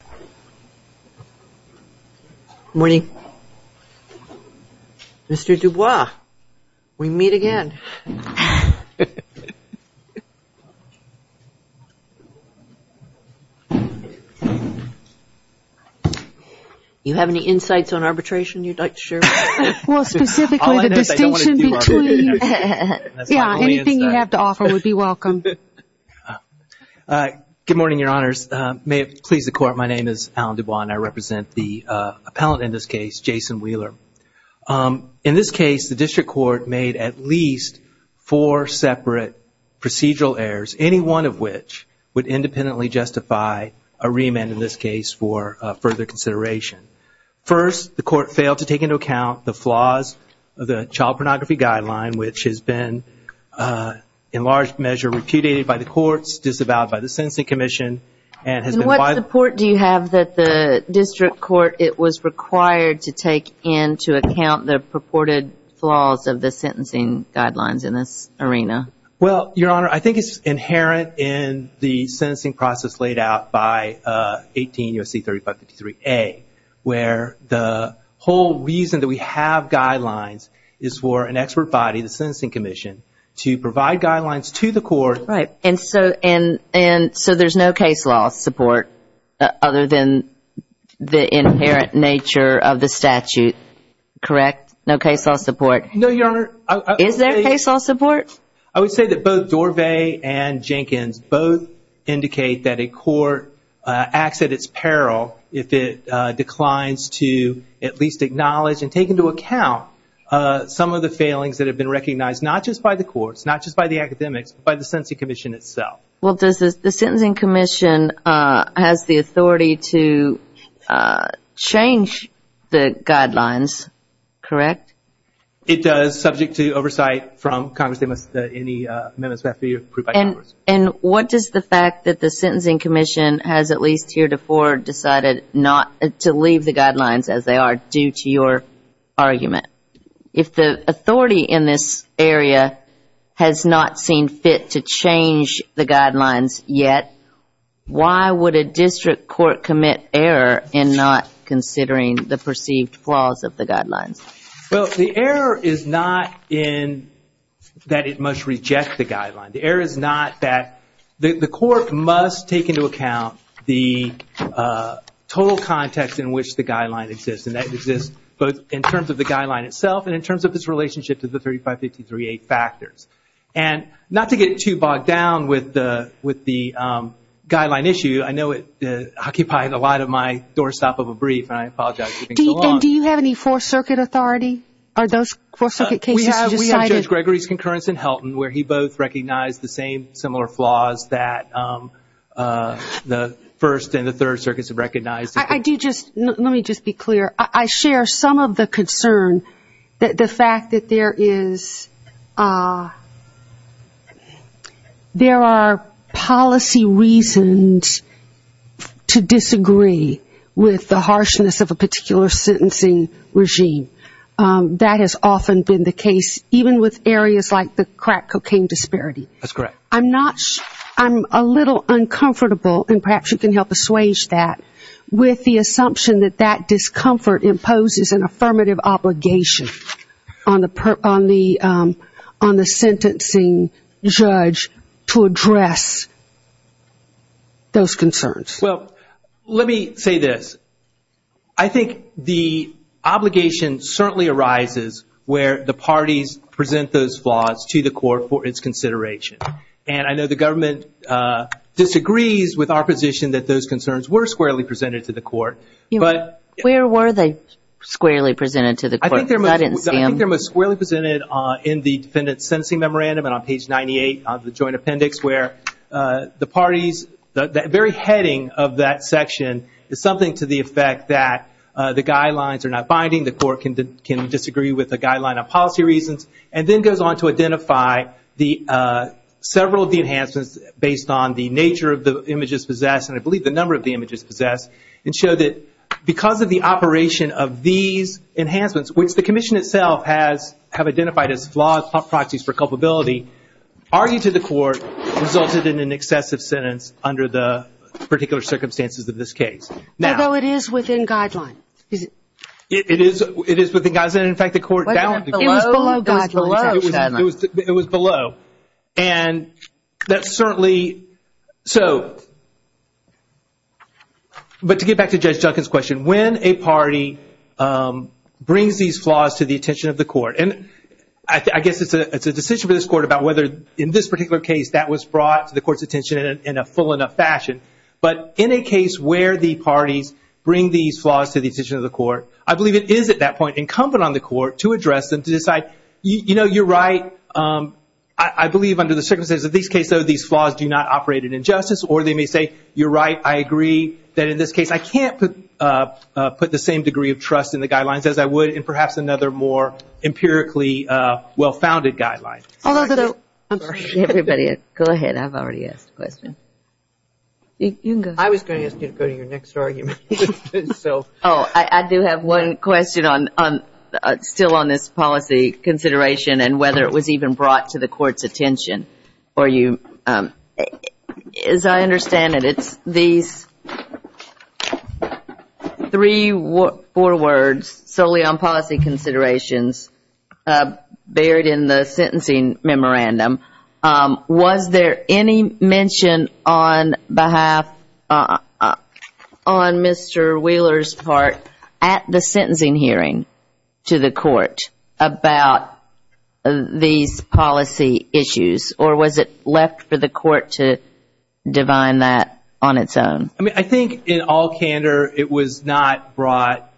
Good morning. Mr. Dubois, we meet again. Do you have any insights on arbitration you'd like to share with us? Well, specifically the distinction between, yeah, anything you have to offer would be welcome. Good morning, Your Honors. May it please the Court. My name is Alan Dubois and I represent the appellant in this case, Jason Wheeler. In this case, the District Court made at least four separate procedural errors, any one of which would independently justify a reamend in this case for further consideration. First, the Court failed to take into account the flaws of the Child Pornography Guideline, which has been in large measure repudiated by the courts, disavowed by the Sentencing Commission. And what support do you have that the District Court, it was required to take into account the purported flaws of the sentencing guidelines in this arena? Well, Your Honor, I think it's inherent in the sentencing process laid out by 18 U.S.C. 3553A, where the whole reason that we have guidelines is for an expert body, the Sentencing Commission, to provide guidelines to the Court. Right. And so there's no case law support other than the inherent nature of the statute, correct? No case law support? No, Your Honor. Is there case law support? I would say that both Dorvay and Jenkins both indicate that a court acts at its peril if it declines to at least acknowledge and take into account some of the failings that have occurred not just by the courts, not just by the academics, but by the Sentencing Commission itself. Well, does the Sentencing Commission has the authority to change the guidelines, correct? It does, subject to oversight from Congress. They must, any amendments have to be approved by Congress. And what does the fact that the Sentencing Commission has at least heretofore decided not to leave the guidelines as they are due to your argument? If the authority in this area has not seen fit to change the guidelines yet, why would a district court commit error in not considering the perceived flaws of the guidelines? Well, the error is not in that it must reject the guideline. The error is not that the court must take into account the total context in which the guideline exists. And that exists both in terms of the guideline itself and in terms of its relationship to the 3553A factors. And not to get too bogged down with the guideline issue, I know it occupied a lot of my doorstop of a brief and I apologize for being so long. And do you have any Fourth Circuit authority? Are those Fourth Circuit cases decided? We have Judge Gregory's concurrence in Helton where he both recognized the same similar flaws that the Third Circuit has recognized. I do just, let me just be clear. I share some of the concern that the fact that there is, there are policy reasons to disagree with the harshness of a particular sentencing regime. That has often been the case even with areas like the crack cocaine disparity. I'm not, I'm a little uncomfortable and perhaps you can help assuage that with the assumption that that discomfort imposes an affirmative obligation on the sentencing judge to address those concerns. Well, let me say this. I think the obligation certainly arises where the parties present those flaws to the court for its consideration. And I know the government disagrees with our position that those concerns were squarely presented to the court. Where were they squarely presented to the court? I didn't see them. I think they're most squarely presented in the defendant's sentencing memorandum and on page 98 of the joint appendix where the parties, the very heading of that section is something to the effect that the guidelines are not binding, the court can disagree with the guideline on policy reasons, and then goes on to identify the, several of the enhancements based on the nature of the images possessed, and I believe the number of the images possessed, and show that because of the operation of these enhancements, which the commission itself has, have identified as flawed proxies for culpability, argued to the court resulted in an excessive sentence under the particular circumstances of this case. Although it is within guidelines. It is within guidelines, and in fact the court, it was below guidelines. It was below. And that certainly, so, but to get back to Judge Duncan's question, when a party brings these flaws to the attention of the court, and I guess it's a decision for this court about whether in this particular case that was brought to the court's attention in a full enough fashion, but in a case where the parties bring these flaws to the attention of the court, I believe it is at that point incumbent on the court to address them, to decide, you know, you're right, I believe under the circumstances of this case, though, these flaws do not operate in injustice, or they may say, you're right, I agree that in this case I can't put the same degree of trust in the guidelines as I would in perhaps another more empirically well-founded guideline. Go ahead, I've already asked a question. I was going to ask you to go to your next argument. Oh, I do have one question on, still on this policy consideration, and whether it was even brought to the court's attention, or you, as I understand it, it's these three or four words solely on policy considerations buried in the sentencing memorandum. Was there any mention on behalf, on Mr. Wheeler's part, at the sentencing hearing to the court about these policy issues, or was it left for the court to divine that on its own? I mean, I think in all candor it was not brought,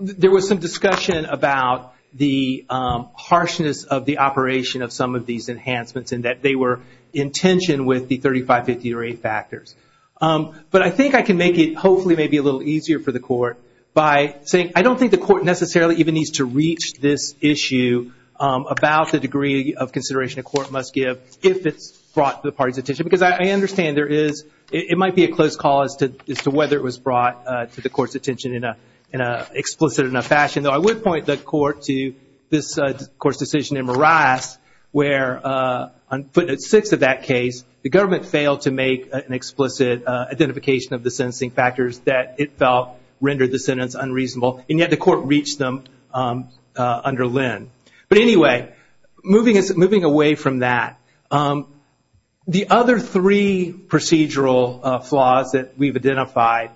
there was some discussion about the harshness of the operation of some of these enhancements, and that they were in tension with the 35-50 rate factors, but I think I can make it, hopefully, maybe a little easier for the court by saying, I don't think the court necessarily even needs to reach this issue about the degree of consideration a court must give if it's brought to the party's attention, because I understand there is, it might be a close call as to whether it was brought to the court's attention in an explicit enough fashion, though I would point the court to this court's decision in Marias, where on footnote six of that case, the government failed to make an explicit identification of the sentencing factors that it felt rendered the sentence unreasonable, and yet the court reached them under Lynn. But anyway, moving away from that, the other three procedural flaws that we've identified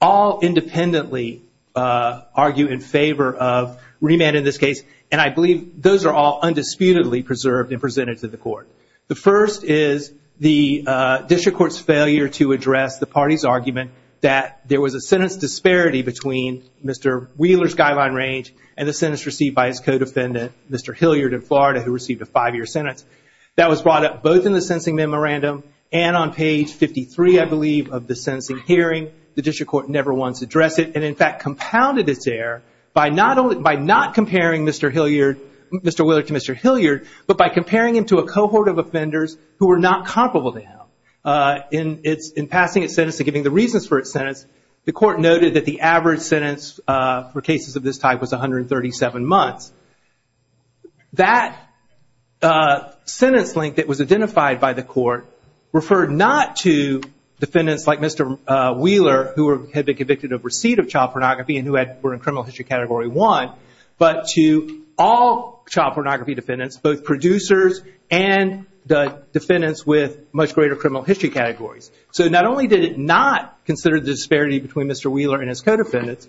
all independently argue in favor of remand in this case, and I believe those are all undisputedly preserved and presented to the court. The first is the district court's failure to recognize that there was a sentence disparity between Mr. Wheeler's guideline range and the sentence received by his co-defendant, Mr. Hilliard in Florida, who received a five-year sentence. That was brought up both in the sentencing memorandum and on page 53, I believe, of the sentencing hearing. The district court never once addressed it, and in fact, compounded its error by not comparing Mr. Wheeler to Mr. Hilliard, but by comparing him to a cohort of offenders who were not comparable to him. In passing its sentence and giving the reasons for its sentence, the court noted that the average sentence for cases of this type was 137 months. That sentence length that was identified by the court referred not to defendants like Mr. Wheeler, who had been convicted of receipt of child pornography and who were in criminal history category one, but to all child pornography defendants, both producers and the defendants with much greater criminal history categories. So not only did it not consider the disparity between Mr. Wheeler and his co-defendants,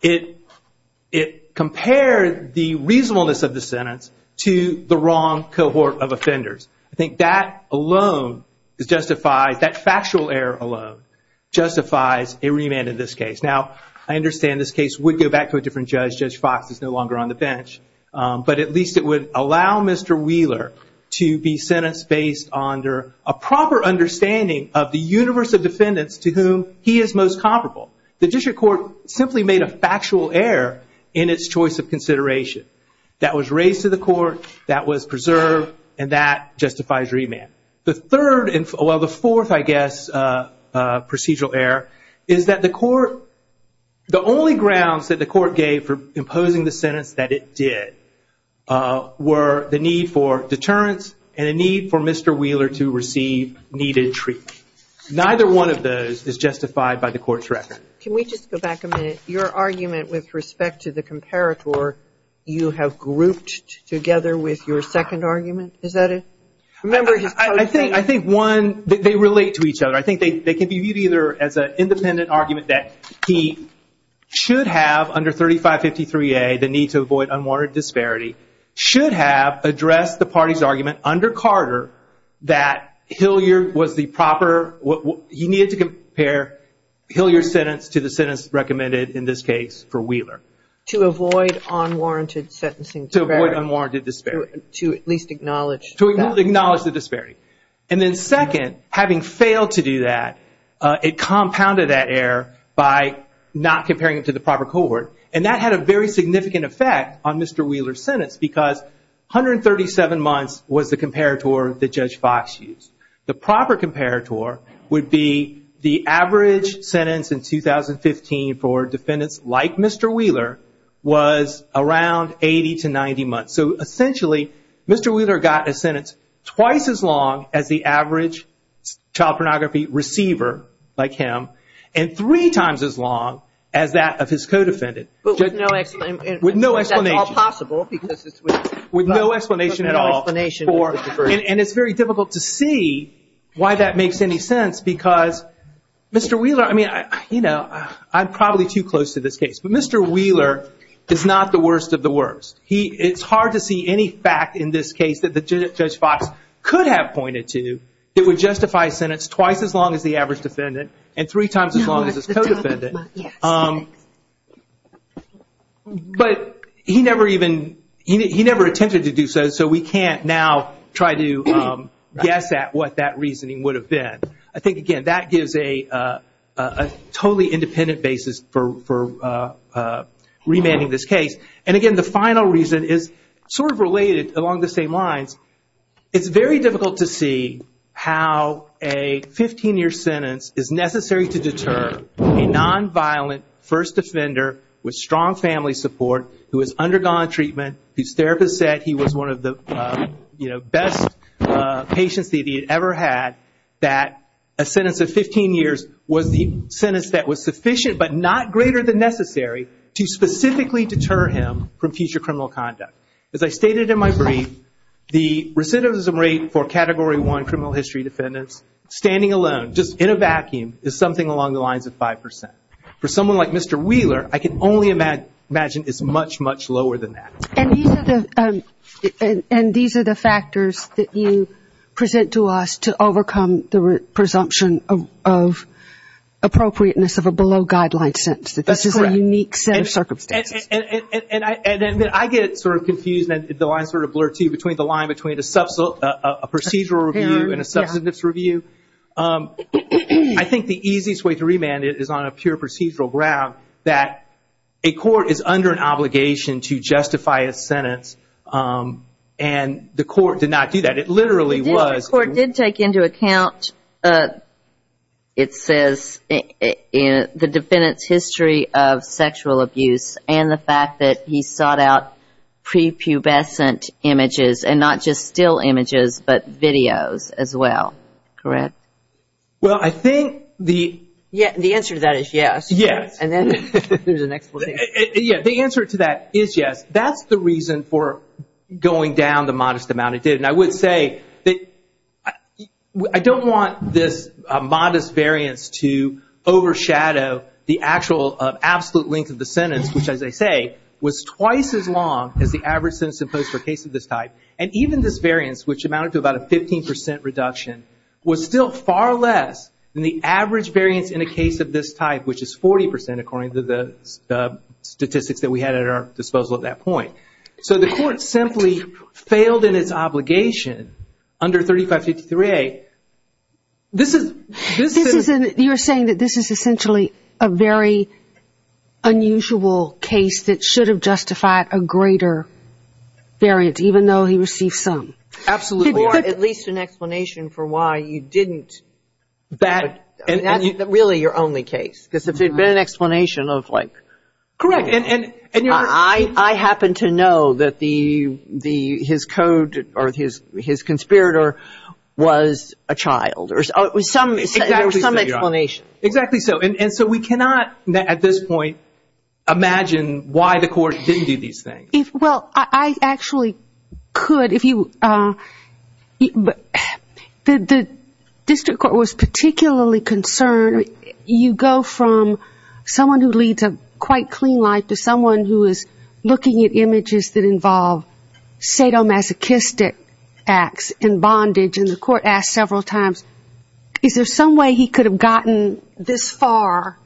it compared the reasonableness of the sentence to the wrong cohort of offenders. I think that factual error alone justifies a remand in this case. Judge Fox is no longer on the bench, but at least it would allow Mr. Wheeler to be sentenced based on a proper understanding of the universe of defendants to whom he is most comparable. The district court simply made a factual error in its choice of consideration. That was raised to the court, that was preserved, and that justifies remand. The fourth, I guess, procedural error is that the court, the only grounds that the court gave for imposing the sentence that it did were the need for deterrence and a need for Mr. Wheeler to receive needed treatment. Neither one of those is justified by the court's record. Can we just go back a minute? Your argument with respect to the comparator, you have grouped together with your second argument, is that it? Remember, I think one, they relate to each other. I think they can be viewed either as an independent argument that he should have under 3553A, the need to avoid unwarranted disparity, should have addressed the party's argument under Carter that Hilliard was the proper, he needed to compare Hilliard's sentence to the sentence recommended in this case for Wheeler. To avoid unwarranted sentencing. To avoid unwarranted disparity. To at least acknowledge that. To acknowledge the disparity. Second, having failed to do that, it compounded that error by not comparing it to the proper cohort. That had a very significant effect on Mr. Wheeler's sentence because 137 months was the comparator that Judge Fox used. The proper comparator would be the average sentence in 2015 for defendants like Mr. Wheeler was around 80 to 90 months. Essentially, Mr. Wheeler got a sentence twice as long as the average child pornography receiver, like him, and three times as long as that of his co-defendant. With no explanation. With no explanation at all. And it's very difficult to see why that makes any sense because Mr. Wheeler, I mean, you know, I'm probably too close to this case, but Mr. Wheeler is not the worst of the worst. It's hard to see any fact in this case that Judge Fox could have pointed to that would justify a sentence twice as long as the average defendant and three times as long as his co-defendant. But he never even, he never attempted to do so, so we can't now try to guess at what that reasoning would have been. I think, again, that gives a totally independent basis for remanding this case. And again, the final reason is sort of related along the same lines. It's very difficult to see how a 15-year sentence is necessary to deter a non-violent first offender with strong family support who has undergone treatment, whose therapist said he was one of the best patients that he had ever had, that a sentence of 15 years was the sentence that was sufficient but not greater than necessary to specifically deter him from future criminal conduct. As I stated in my category one criminal history defendants, standing alone, just in a vacuum, is something along the lines of 5%. For someone like Mr. Wheeler, I can only imagine it's much, much lower than that. And these are the factors that you present to us to overcome the presumption of appropriateness of a below-guideline sentence. That this is a unique set of circumstances. And I get sort of confused and the lines sort of blur too between the line between a procedural review and a substantive review. I think the easiest way to remand it is on a pure procedural ground that a court is under an obligation to justify a sentence and the court did not do that. The court did take into account, it says, the defendant's history of sexual abuse and the fact that he sought out prepubescent images and not just still images but videos as well. Correct? Well, I think the answer to that is yes. The answer to that is yes. That's the reason for going down the modest amount it did. And I would say that I don't want this modest variance to overshadow the actual absolute length of the sentence, which as I say, was twice as long as the average sentence imposed for a case of this type. And even this variance, which amounted to about a 15% reduction, was still far less than the average variance in a case of this type, which is 40% according to the statistics that we had at our obligation under 3553A. You're saying that this is essentially a very unusual case that should have justified a greater variance, even though he received some. Absolutely. Or at least an explanation for why you didn't. That's really your only case. Because if it had been an explanation of like... I happen to know that his code or his conspirator was a child. There was some explanation. Exactly so. And so we cannot at this point imagine why the court didn't do these things. Well, I actually could. The district court was particularly concerned. You go from someone who had a clean life to someone who is looking at images that involve sadomasochistic acts and bondage. And the court asked several times, is there some way he could have gotten this far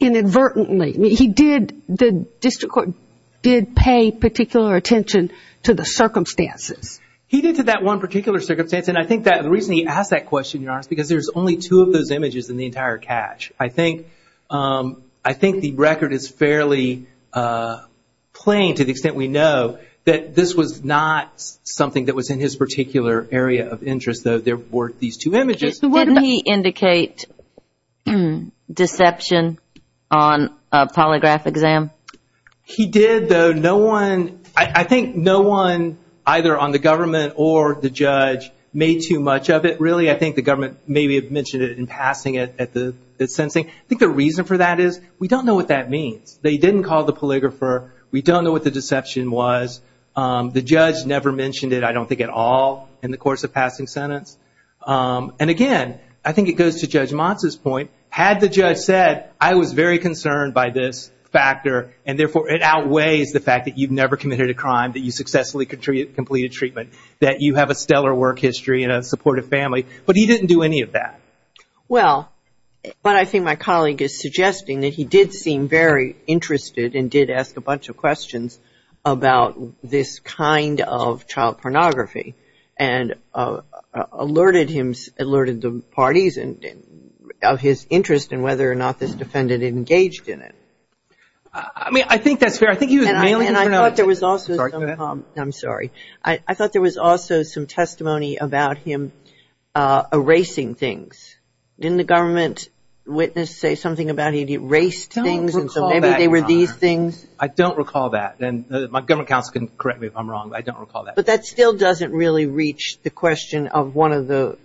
inadvertently? He did, the district court did pay particular attention to the circumstances. He did to that one particular circumstance. And I think that the reason he asked that question, Your Honor, is because there's only two of those images in the entire catch. I think I think the record is fairly plain to the extent we know that this was not something that was in his particular area of interest, though there were these two images. Didn't he indicate deception on a polygraph exam? He did, though no one, I think no one either on the government or the judge made too much of it. Really, I think the government maybe mentioned it in passing it sentencing. I think the reason for that is we don't know what that means. They didn't call the polygrapher. We don't know what the deception was. The judge never mentioned it, I don't think, at all in the course of passing sentence. And again, I think it goes to Judge Monsa's point. Had the judge said, I was very concerned by this factor and therefore it outweighs the fact that you've never committed a crime, that you successfully completed treatment, that you have a stellar work history and a supportive family, but he didn't do any of that. Well, but I think my colleague is suggesting that he did seem very interested and did ask a bunch of questions about this kind of child pornography and alerted him, alerted the parties of his interest in whether or not this defendant engaged in it. I mean, I think that's fair. I think he was mailing it. And I thought there was also, I'm sorry. I thought there was also some testimony about him erasing things. Didn't the government witness say something about he'd erased things and so maybe they were these things? I don't recall that. And my government counsel can correct me if I'm wrong, but I don't recall that. But that still doesn't really reach the question of one of the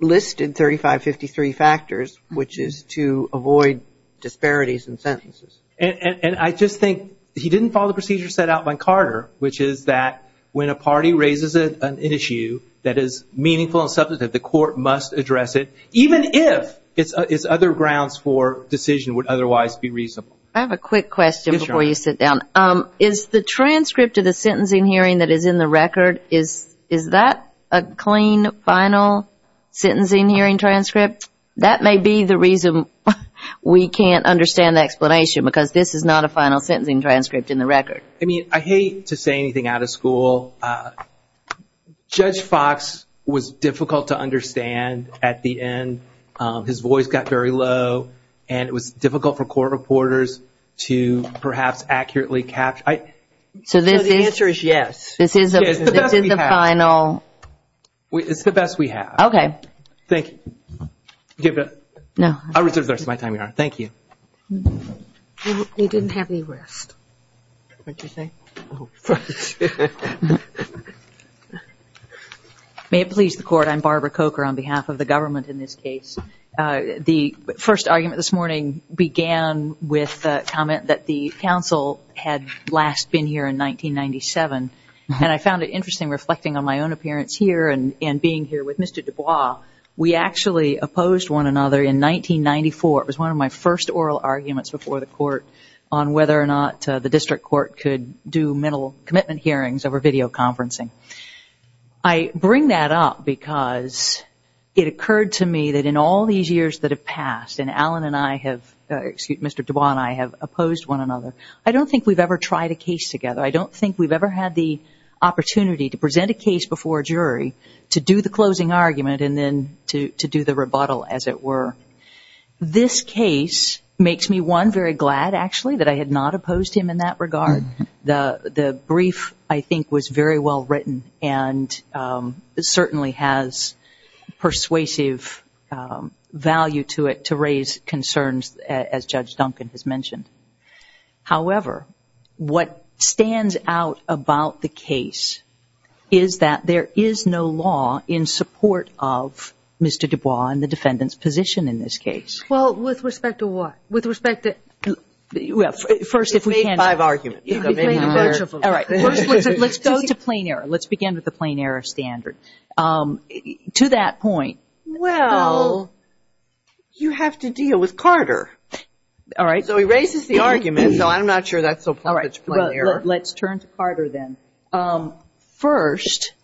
listed 3553 factors, which is to avoid disparities in sentences. And I just think he didn't follow the procedure set out by Carter, which is that when a party raises an issue that is meaningful and substantive, the court must address it, even if it's other grounds for decision would otherwise be reasonable. I have a quick question before you sit down. Is the transcript of the sentencing hearing that is in the record, is that a clean, final sentencing hearing transcript? That may be the reason we can't understand the explanation because this is not a final sentencing transcript in the record. I mean, I hate to say anything out of school. Judge Fox was difficult to understand at the end. His voice got very low and it was difficult for court reporters to perhaps accurately capture. So the answer is yes. This is the final. It's the best we have. Okay. Thank you. I'll reserve the rest of my time, Your Honor. Thank you. You didn't have any rest. What did you say? May it please the court, I'm Barbara Coker on behalf of the government in this case. The first argument this morning began with a comment that the counsel had last been here in 1997. And I found it interesting reflecting on my own appearance here and being here with Mr. Dubois, we actually opposed one another in 1994. It was one of my first oral arguments before the court on whether or not the district court could do mental commitment hearings over video conferencing. I bring that up because it occurred to me that in all these years that have passed and Alan and I have, excuse me, Mr. Dubois and I have opposed one another. I don't think we've ever tried a case together. I don't think we've ever had the opportunity to present a case before a jury to do the closing argument and then to do the rebuttal, as it were. This case makes me, one, very glad, actually, that I had not opposed him in that regard. The brief, I think, was very well written and certainly has persuasive value to it to raise concerns as Judge Duncan has mentioned. However, what stands out about the case is that there is no law in support of Mr. Dubois and the defendant's position in this case. Well, with respect to what? With respect to... First, if we can... You've made five arguments. You've made a bunch of them. All right. Let's go to plain error. Let's begin with the plain error standard. To that point... Well, you have to deal with Carter. All right. So he raises the argument. So I'm not sure that's so far as plain error. Let's turn to Carter then. First,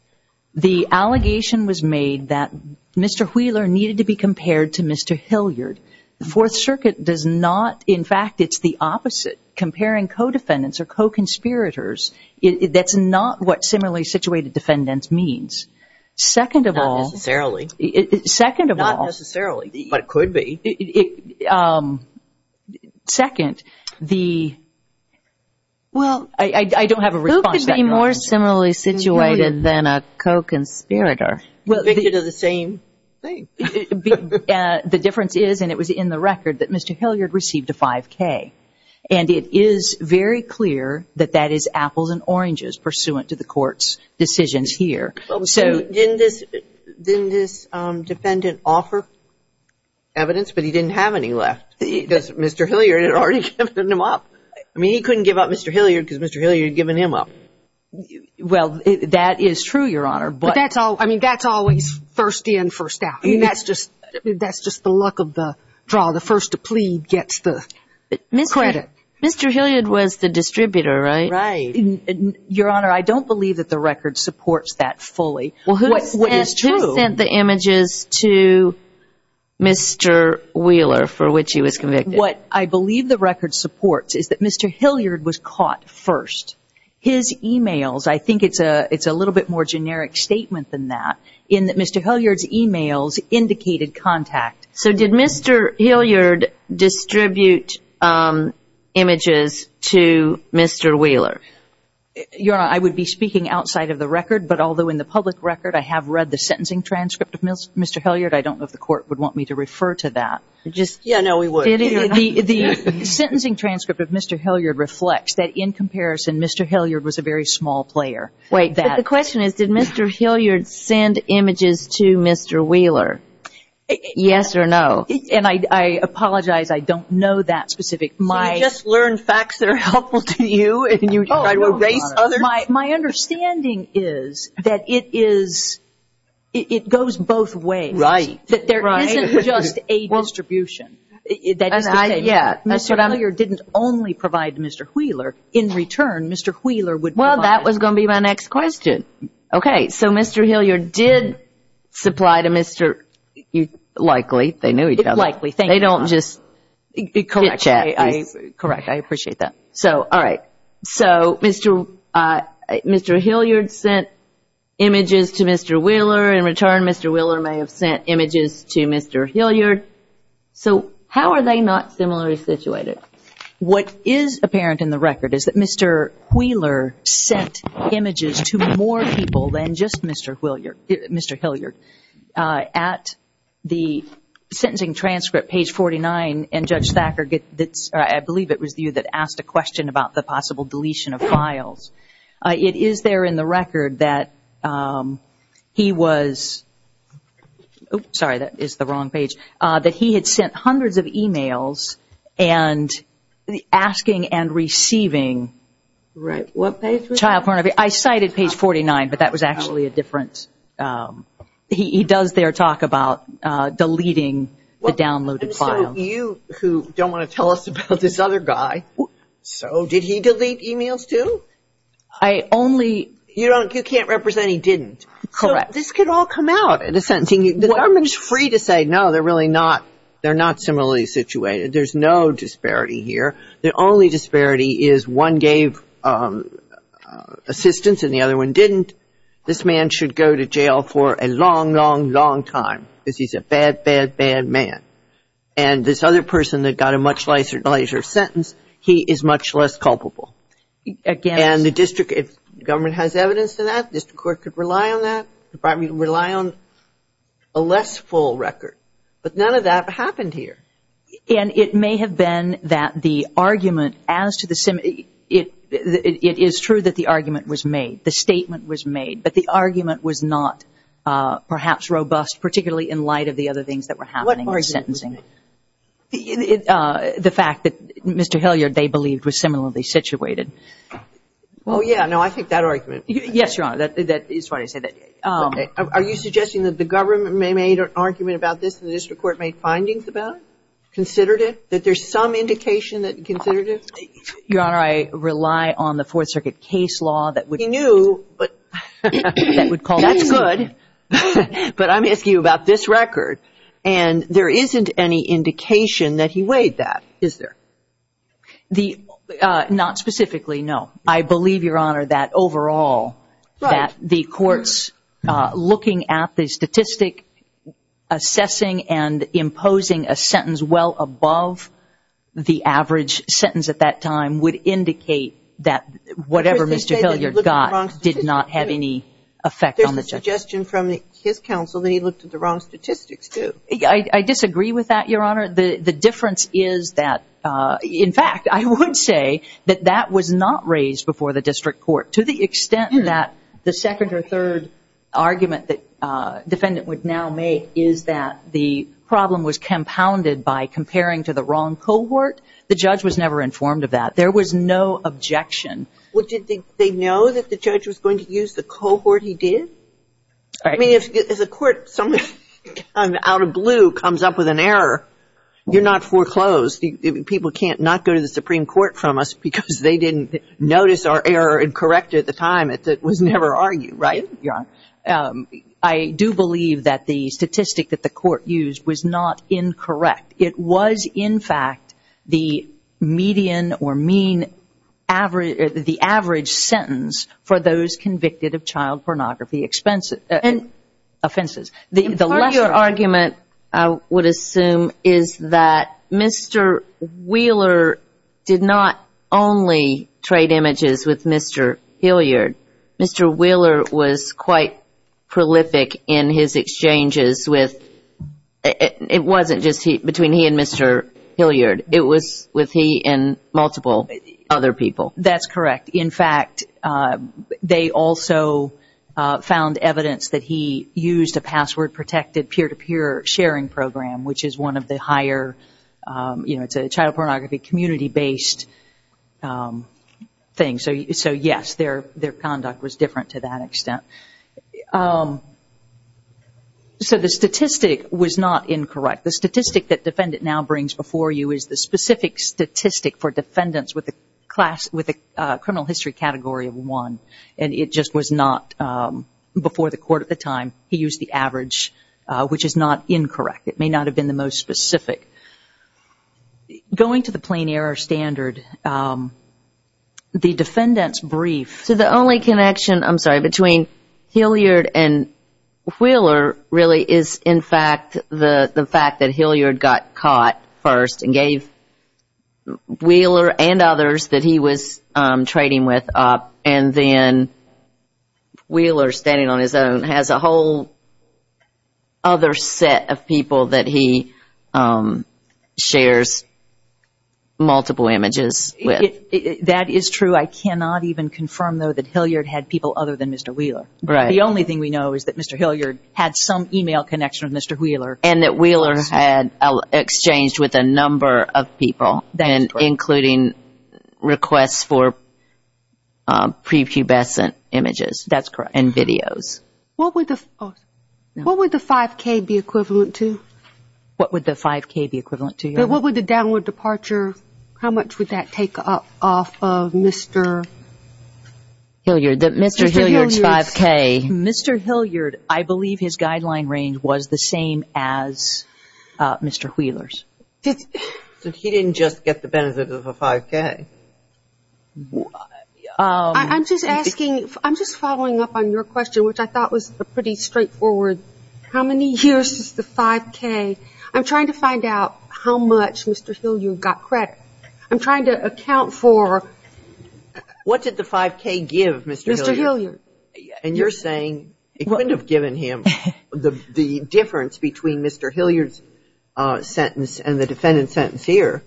the allegation was made that Mr. Wheeler needed to be compared to Mr. Hilliard. The Fourth Circuit does not. In fact, it's the opposite. Comparing co-defendants or co-conspirators, that's not what similarly situated defendants means. Second of all... Not necessarily. Second of all... Not necessarily, but it could be. Second, the... Well... I don't have a response. Who could be more similarly situated than a co-conspirator? Well, they do the same thing. The difference is, and it was in the record, that Mr. Hilliard received a 5K. And it is very clear that that is apples and oranges pursuant to the court's decisions here. So didn't this defendant offer evidence? But he didn't have any left because Mr. Hilliard had already given him up. I mean, he couldn't give up Mr. Hilliard because Mr. Hilliard had given him up. Well, that is true, Your Honor, but... But that's all... I mean, that's always first in, first out. I mean, that's just... That's just the luck of the draw. The first to plead gets the credit. Mr. Hilliard was the distributor, right? Right. Your Honor, I don't believe that the record supports that fully. Well, who sent the images to Mr. Wheeler for which he was convicted? What I believe the record supports is that Mr. Hilliard was caught first. His emails, I think it's a little bit more generic statement than that, in that Mr. Hilliard's emails indicated contact. So did Mr. Hilliard distribute images to Mr. Wheeler? Your Honor, I would be speaking outside of the record, but although in the public record I have read the sentencing transcript of Mr. Hilliard, I don't know if the court would want me to refer to that. Just... Yeah, no, we would. The sentencing transcript of Mr. Hilliard reflects that in comparison, Mr. Hilliard was a very small player. Wait, the question is, did Mr. Hilliard send images to Mr. Wheeler? Yes or no? And I apologize, I don't know that specific... So you just learned facts that are helpful to you and you try to erase others? My understanding is that it is... it goes both ways. That there isn't just a distribution. Yeah. Mr. Hilliard didn't only provide to Mr. Wheeler. In return, Mr. Wheeler would provide... Well, that was going to be my next question. Okay, so Mr. Hilliard did supply to Mr... likely, they knew each other. Likely, thank you. They don't just... Correct. Correct, I appreciate that. So, all right. So Mr. Hilliard sent images to Mr. Wheeler. In return, Mr. Wheeler may have sent images to Mr. Hilliard. So, how are they not similarly situated? What is apparent in the record is that Mr. Wheeler sent images to more people than just Mr. Hilliard. At the sentencing transcript, page 49, and Judge Thacker gets... I believe it was you that asked a question about the possible deletion of files. It is there in the record that he was... Sorry, that is the wrong page. That he had sent hundreds of emails and asking and receiving... Right, what page was that? Child pornography. I cited page 49, but that was actually a different... He does there talk about deleting the downloaded file. You, who don't want to tell us about this other guy. So, did he delete emails too? I only... You can't represent he didn't. Correct. This could all come out at a sentencing. The government is free to say, no, they're really not. They're not similarly situated. There's no disparity here. The only disparity is one gave assistance and the other one didn't. This man should go to jail for a long, long, long time. Because he's a bad, bad, bad man. And this other person that got a much nicer sentence, he is much less culpable. Again... And the district, if government has evidence to that, district court could rely on that. The department can rely on a less full record. But none of that happened here. And it may have been that the argument as to the... It is true that the argument was made. The statement was made. But the argument was not perhaps robust, particularly in light of the other things that were happening in sentencing. It... The fact that Mr. Hilliard, they believed, was similarly situated. Well, yeah. No, I think that argument... Yes, Your Honor. That is why I said that. Are you suggesting that the government may have made an argument about this and the district court made findings about it? Considered it? That there's some indication that considered it? Your Honor, I rely on the Fourth Circuit case law that would... He knew, but... That would call... That's good. But I'm asking you about this record. And there isn't any indication that he weighed that, is there? The... Not specifically, no. I believe, Your Honor, that overall that the courts looking at the statistic, assessing and imposing a sentence well above the average sentence at that time would indicate that whatever Mr. Hilliard got did not have any effect on the judge. There's a suggestion from his counsel that he looked at the wrong statistics. I disagree with that, Your Honor. The difference is that... In fact, I would say that that was not raised before the district court. To the extent that the second or third argument that defendant would now make is that the problem was compounded by comparing to the wrong cohort, the judge was never informed of that. There was no objection. Well, did they know that the judge was going to use the cohort he did? All right. As a court, someone out of blue comes up with an error, you're not foreclosed. People can't not go to the Supreme Court from us because they didn't notice our error and correct it at the time. It was never argued, right? Your Honor, I do believe that the statistic that the court used was not incorrect. It was, in fact, the median or mean, the average sentence for those convicted of child pornography expenses. Offenses. And part of your argument, I would assume, is that Mr. Wheeler did not only trade images with Mr. Hilliard. Mr. Wheeler was quite prolific in his exchanges with... It wasn't just between he and Mr. Hilliard. It was with he and multiple other people. That's correct. In fact, they also found evidence that he used a password-protected peer-to-peer sharing program, which is one of the higher... It's a child pornography community-based thing. So, yes, their conduct was different to that extent. So the statistic was not incorrect. The statistic that defendant now brings before you is the specific statistic for defendants with a criminal history category of 1. And it just was not... Before the court at the time, he used the average, which is not incorrect. It may not have been the most specific. Going to the plain error standard, the defendant's brief... So the only connection, I'm sorry, between Hilliard and Wheeler really is, in fact, the fact that Hilliard got caught first and gave Wheeler and others that he was trading with up, and then Wheeler, standing on his own, has a whole other set of people that he shares multiple images with. That is true. I cannot even confirm, though, that Hilliard had people other than Mr. Wheeler. Right. The only thing we know is that Mr. Hilliard had some email connection with Mr. Wheeler. And that Wheeler had exchanged with a number of people, including requests for prepubescent images. That's correct. And videos. What would the 5K be equivalent to? What would the 5K be equivalent to? What would the downward departure... How much would that take off of Mr. Hilliard? Mr. Hilliard's 5K. Mr. Hilliard, I believe his guideline range was the same as Mr. Wheeler's. So he didn't just get the benefit of a 5K? I'm just asking, I'm just following up on your question, which I thought was pretty straightforward. How many years is the 5K? I'm trying to find out how much Mr. Hilliard got credit. I'm trying to account for... What did the 5K give Mr. Hilliard? And you're saying it wouldn't have given him the difference between Mr. Hilliard's sentence and the defendant's sentence here.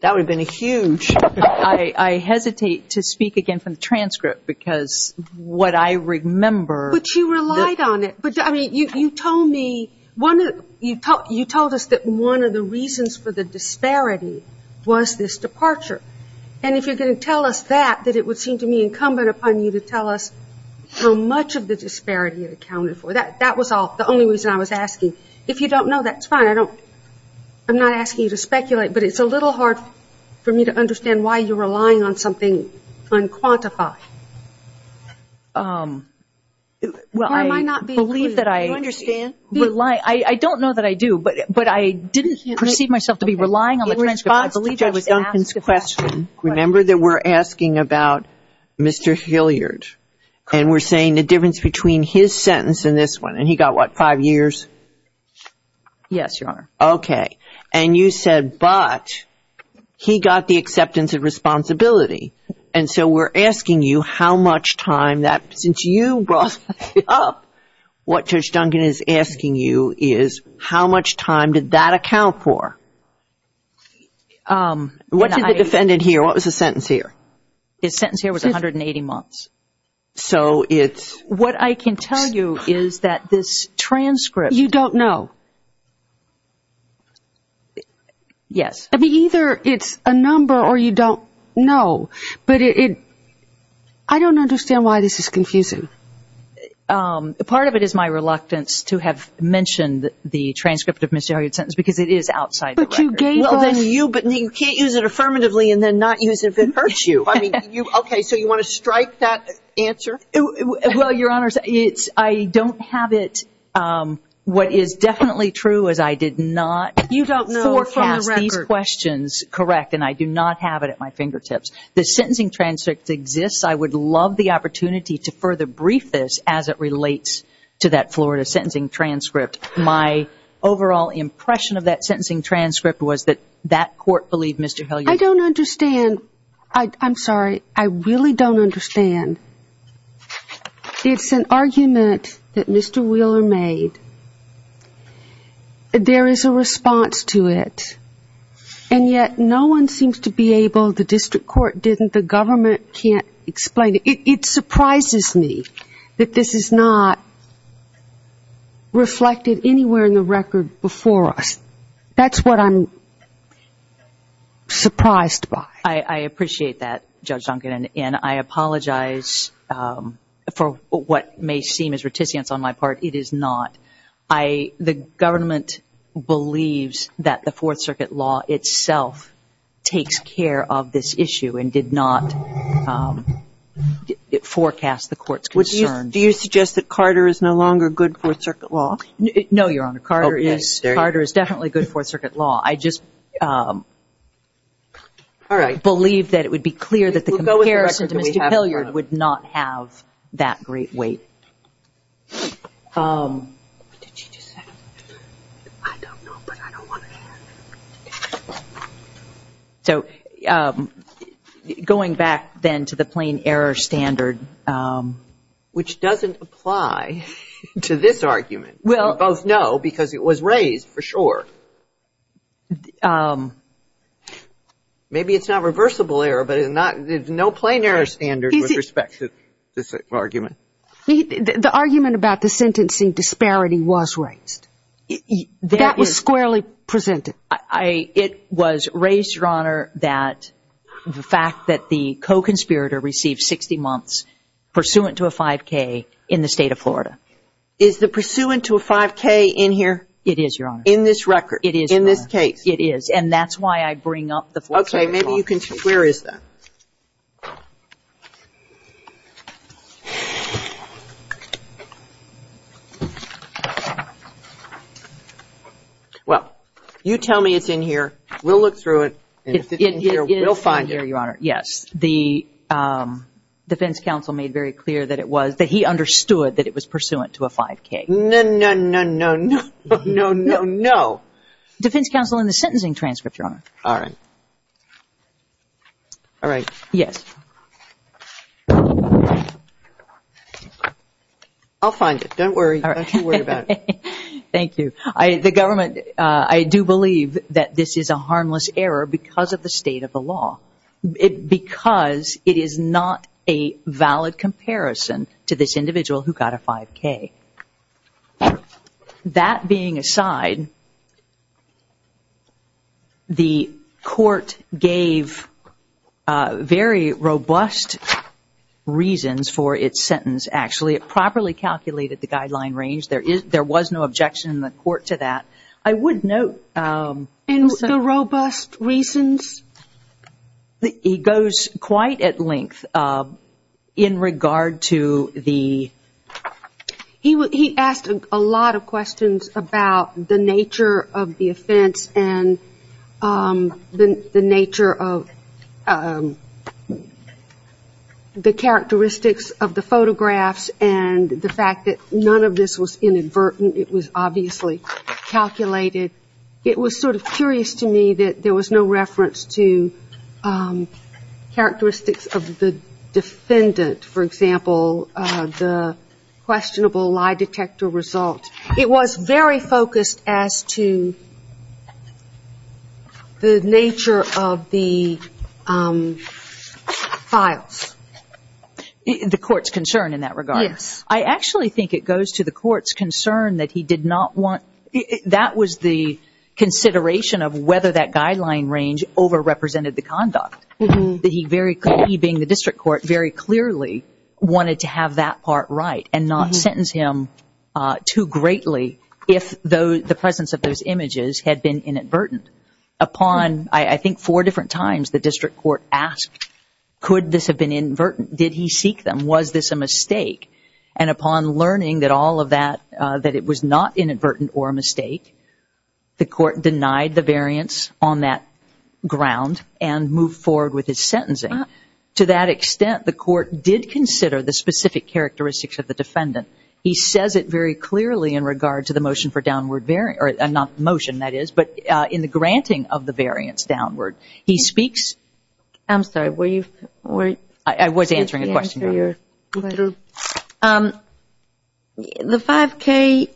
That would have been a huge... I hesitate to speak again from the transcript because what I remember... But you relied on it. But I mean, you told me, you told us that one of the reasons for the disparity was this departure. And if you're going to tell us that, that it would seem to me incumbent upon you to tell us how much of the disparity it accounted for. That was the only reason I was asking. If you don't know, that's fine. I'm not asking you to speculate, but it's a little hard for me to understand why you're relying on something unquantified. Well, I believe that I... Do you understand? I don't know that I do, but I didn't perceive myself to be relying on the transcript. I believe that was Duncan's question. Remember that we're asking about Mr. Hilliard and we're saying the difference between his sentence and this one. And he got what, five years? Yes, Your Honor. Okay. And you said, but he got the acceptance of responsibility. And so we're asking you how much time that, since you brought it up, what Judge Duncan is asking you is how much time did that account for? What did the defendant hear? What was the sentence here? His sentence here was 180 months. So it's... What I can tell you is that this transcript... You don't know. Yes. I mean, either it's a number or you don't know, but I don't understand why this is confusing. Part of it is my reluctance to have mentioned the transcript of Mr. Hilliard's sentence because it is outside the record. But you gave us... You can't use it affirmatively and then not use it if it hurts you. I mean, you... Okay. So you want to strike that answer? Well, Your Honor, it's... I don't have it. What is definitely true is I did not forecast these questions correct. And I do not have it at my fingertips. The sentencing transcript exists. I would love the opportunity to further brief this as it relates to that Florida sentencing transcript. My overall impression of that sentencing transcript was that that court believed Mr. Hilliard... I don't understand. I'm sorry. I really don't understand. It's an argument that Mr. Wheeler made. There is a response to it. And yet no one seems to be able... The district court didn't. The government can't explain it. It surprises me that this is not reflected anywhere in the record before us. That's what I'm surprised by. I appreciate that, Judge Duncan. And I apologize for what may seem as reticence on my part. It is not. The government believes that the Fourth Circuit law itself takes care of this issue and did not forecast the court's concerns. Do you suggest that Carter is no longer good Fourth Circuit law? No, Your Honor. Carter is... I just believe that it would be clear that the comparison to Mr. Hilliard would not have that great weight. So going back then to the plain error standard... Which doesn't apply to this argument. We both know because it was raised for sure. So maybe it's not reversible error, but there's no plain error standard with respect to this argument. The argument about the sentencing disparity was raised. That was squarely presented. It was raised, Your Honor, that the fact that the co-conspirator received 60 months pursuant to a 5K in the state of Florida. Is the pursuant to a 5K in here? It is, Your Honor. In this record? It is, Your Honor. In this case? It is. And that's why I bring up the Fourth Circuit law. Okay. Maybe you can... Where is that? Well, you tell me it's in here. We'll look through it and if it's in here, we'll find it. It is in here, Your Honor. Yes. The defense counsel made very clear that it was... That he understood that it was pursuant to a 5K. No, no, no, no, no, no, no, no. Defense counsel in the sentencing transcript, Your Honor. All right. All right. Yes. I'll find it. Don't worry. Don't you worry about it. Thank you. The government... I do believe that this is a harmless error because of the state of the law. Because it is not a valid comparison to this individual who got a 5K. But that being aside, the court gave very robust reasons for its sentence. Actually, it properly calculated the guideline range. There was no objection in the court to that. I would note... And the robust reasons? He goes quite at length in regard to the... He asked a lot of questions about the nature of the offense and the nature of the characteristics of the photographs and the fact that none of this was inadvertent. It was obviously calculated. It was sort of curious to me that there was no reference to characteristics of the defendant. For example, the questionable lie detector result. It was very focused as to the nature of the files. The court's concern in that regard? Yes. I actually think it goes to the court's concern that he did not want... That was the consideration of whether that guideline range overrepresented the conduct. That he, being the district court, very clearly wanted to have that part right and not sentence him too greatly if the presence of those images had been inadvertent. Upon, I think, four different times the district court asked, could this have been inadvertent? Did he seek them? Was this a mistake? And upon learning that all of that, that it was not inadvertent or a mistake, the court denied the variance on that ground and moved forward with his sentencing. To that extent, the court did consider the specific characteristics of the defendant. He says it very clearly in regard to the motion for downward variant, or not motion, that is, but in the granting of the variance downward. He speaks... I'm sorry, were you... I was answering a question. You're... The 5K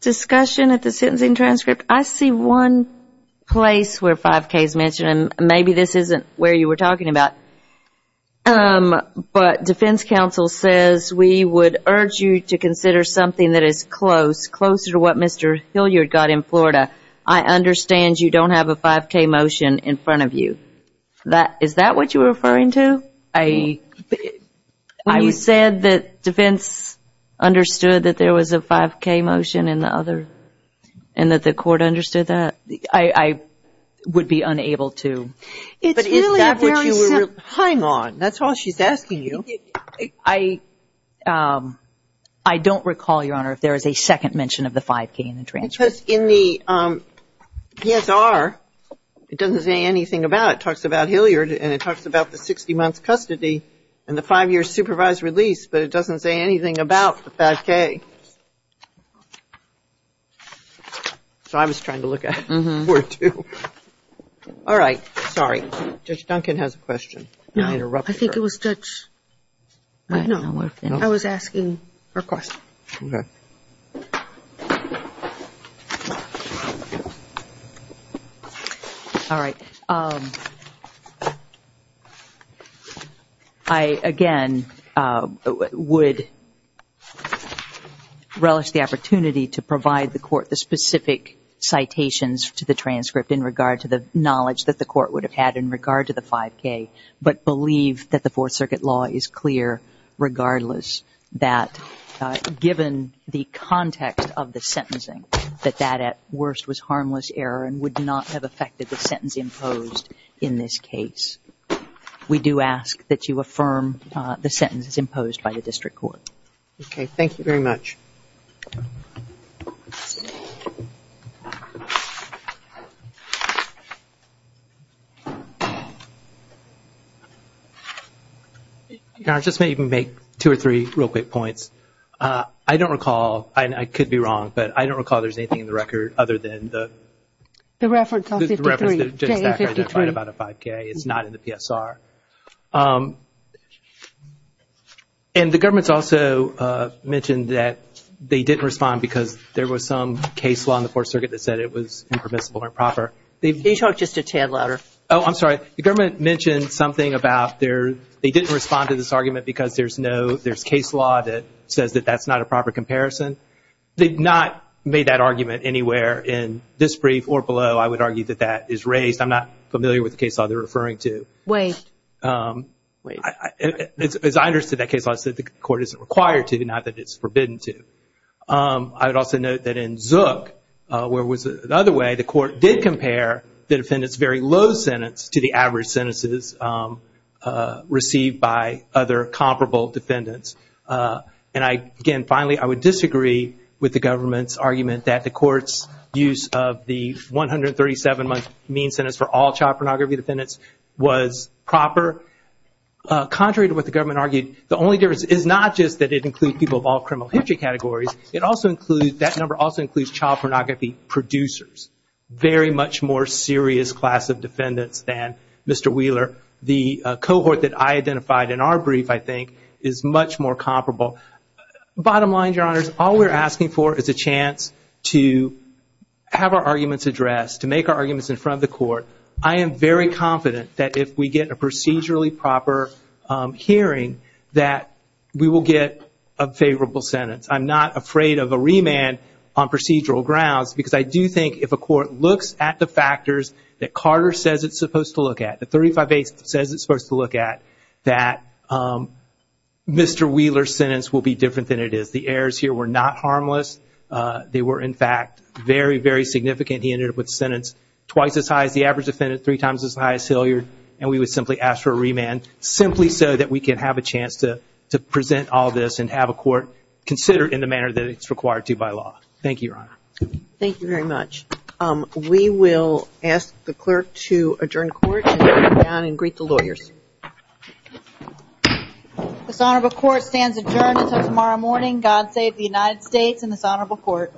discussion at the sentencing transcript, I see one place where 5K is mentioned, and maybe this isn't where you were talking about, but defense counsel says we would urge you to consider something that is close, closer to what Mr. Hilliard got in Florida. I understand you don't have a 5K motion in front of you. Is that what you're referring to? I... When you said that defense understood that there was a 5K motion in the other, and that the court understood that, I would be unable to... But is that what you were... Hang on. That's all she's asking you. I don't recall, Your Honor, if there is a second mention of the 5K in the transcript. Because in the PSR, it doesn't say anything about it. And it talks about the 60 months custody and the five-year supervised release, but it doesn't say anything about the 5K. So I was trying to look at it for two. All right. Sorry. Judge Duncan has a question. No, I think it was Judge... I don't know. I was asking her question. All right. I, again, would relish the opportunity to provide the court the specific citations to the transcript in regard to the knowledge that the court would have had in regard to the 5K, but believe that the Fourth Circuit law is clear, regardless, that given the context of the sentencing, that that at worst was harmless error and would not have affected the sentence imposed in this case. We do ask that you affirm the sentences imposed by the district court. Okay. Thank you very much. Your Honor, I just may even make two or three real quick points. I don't recall, and I could be wrong, but I don't recall there's anything in the record other than the... The reference of 53. ...about a 5K. It's not in the PSR. And the government's also mentioned that they didn't respond because there was some case law in the Fourth Circuit that said it was impermissible or improper. Can you talk just a tad louder? Oh, I'm sorry. The government mentioned something about they didn't respond to this argument because there's no... There's case law that says that that's not a proper comparison. They've not made that argument anywhere in this brief or below. I would argue that that is raised. I'm not familiar with the case law they're referring to. Wait. As I understood that case law, I said the court isn't required to, not that it's forbidden to. I would also note that in Zook, where it was the other way, the court did compare the defendant's very low sentence to the average sentences received by other comparable defendants. And again, finally, I would disagree with the government's argument that the court's use of the 137-month mean sentence for all child pornography defendants was proper. Contrary to what the government argued, the only difference is not just that it includes people of all criminal history categories. It also includes... That number also includes child pornography producers. Very much more serious class of defendants than Mr. Wheeler. The cohort that I identified in our brief, I think, is much more comparable. Bottom line, Your Honors, all we're asking for is a chance to have our arguments addressed, to make our arguments in front of the court. I am very confident that if we get a procedurally proper hearing, that we will get a favorable sentence. I'm not afraid of a remand on procedural grounds, because I do think if a court looks at the factors that Carter says it's supposed to look at, 35A says it's supposed to look at, that Mr. Wheeler's sentence will be different than it is. The errors here were not harmless. They were, in fact, very, very significant. He ended up with a sentence twice as high as the average defendant, three times as high as Hilliard, and we would simply ask for a remand, simply so that we can have a chance to present all this and have a court consider it in the manner that it's required to by law. Thank you, Your Honor. Thank you very much. We will ask the clerk to adjourn court and come down and greet the lawyers. This honorable court stands adjourned until tomorrow morning. God save the United States and this honorable court.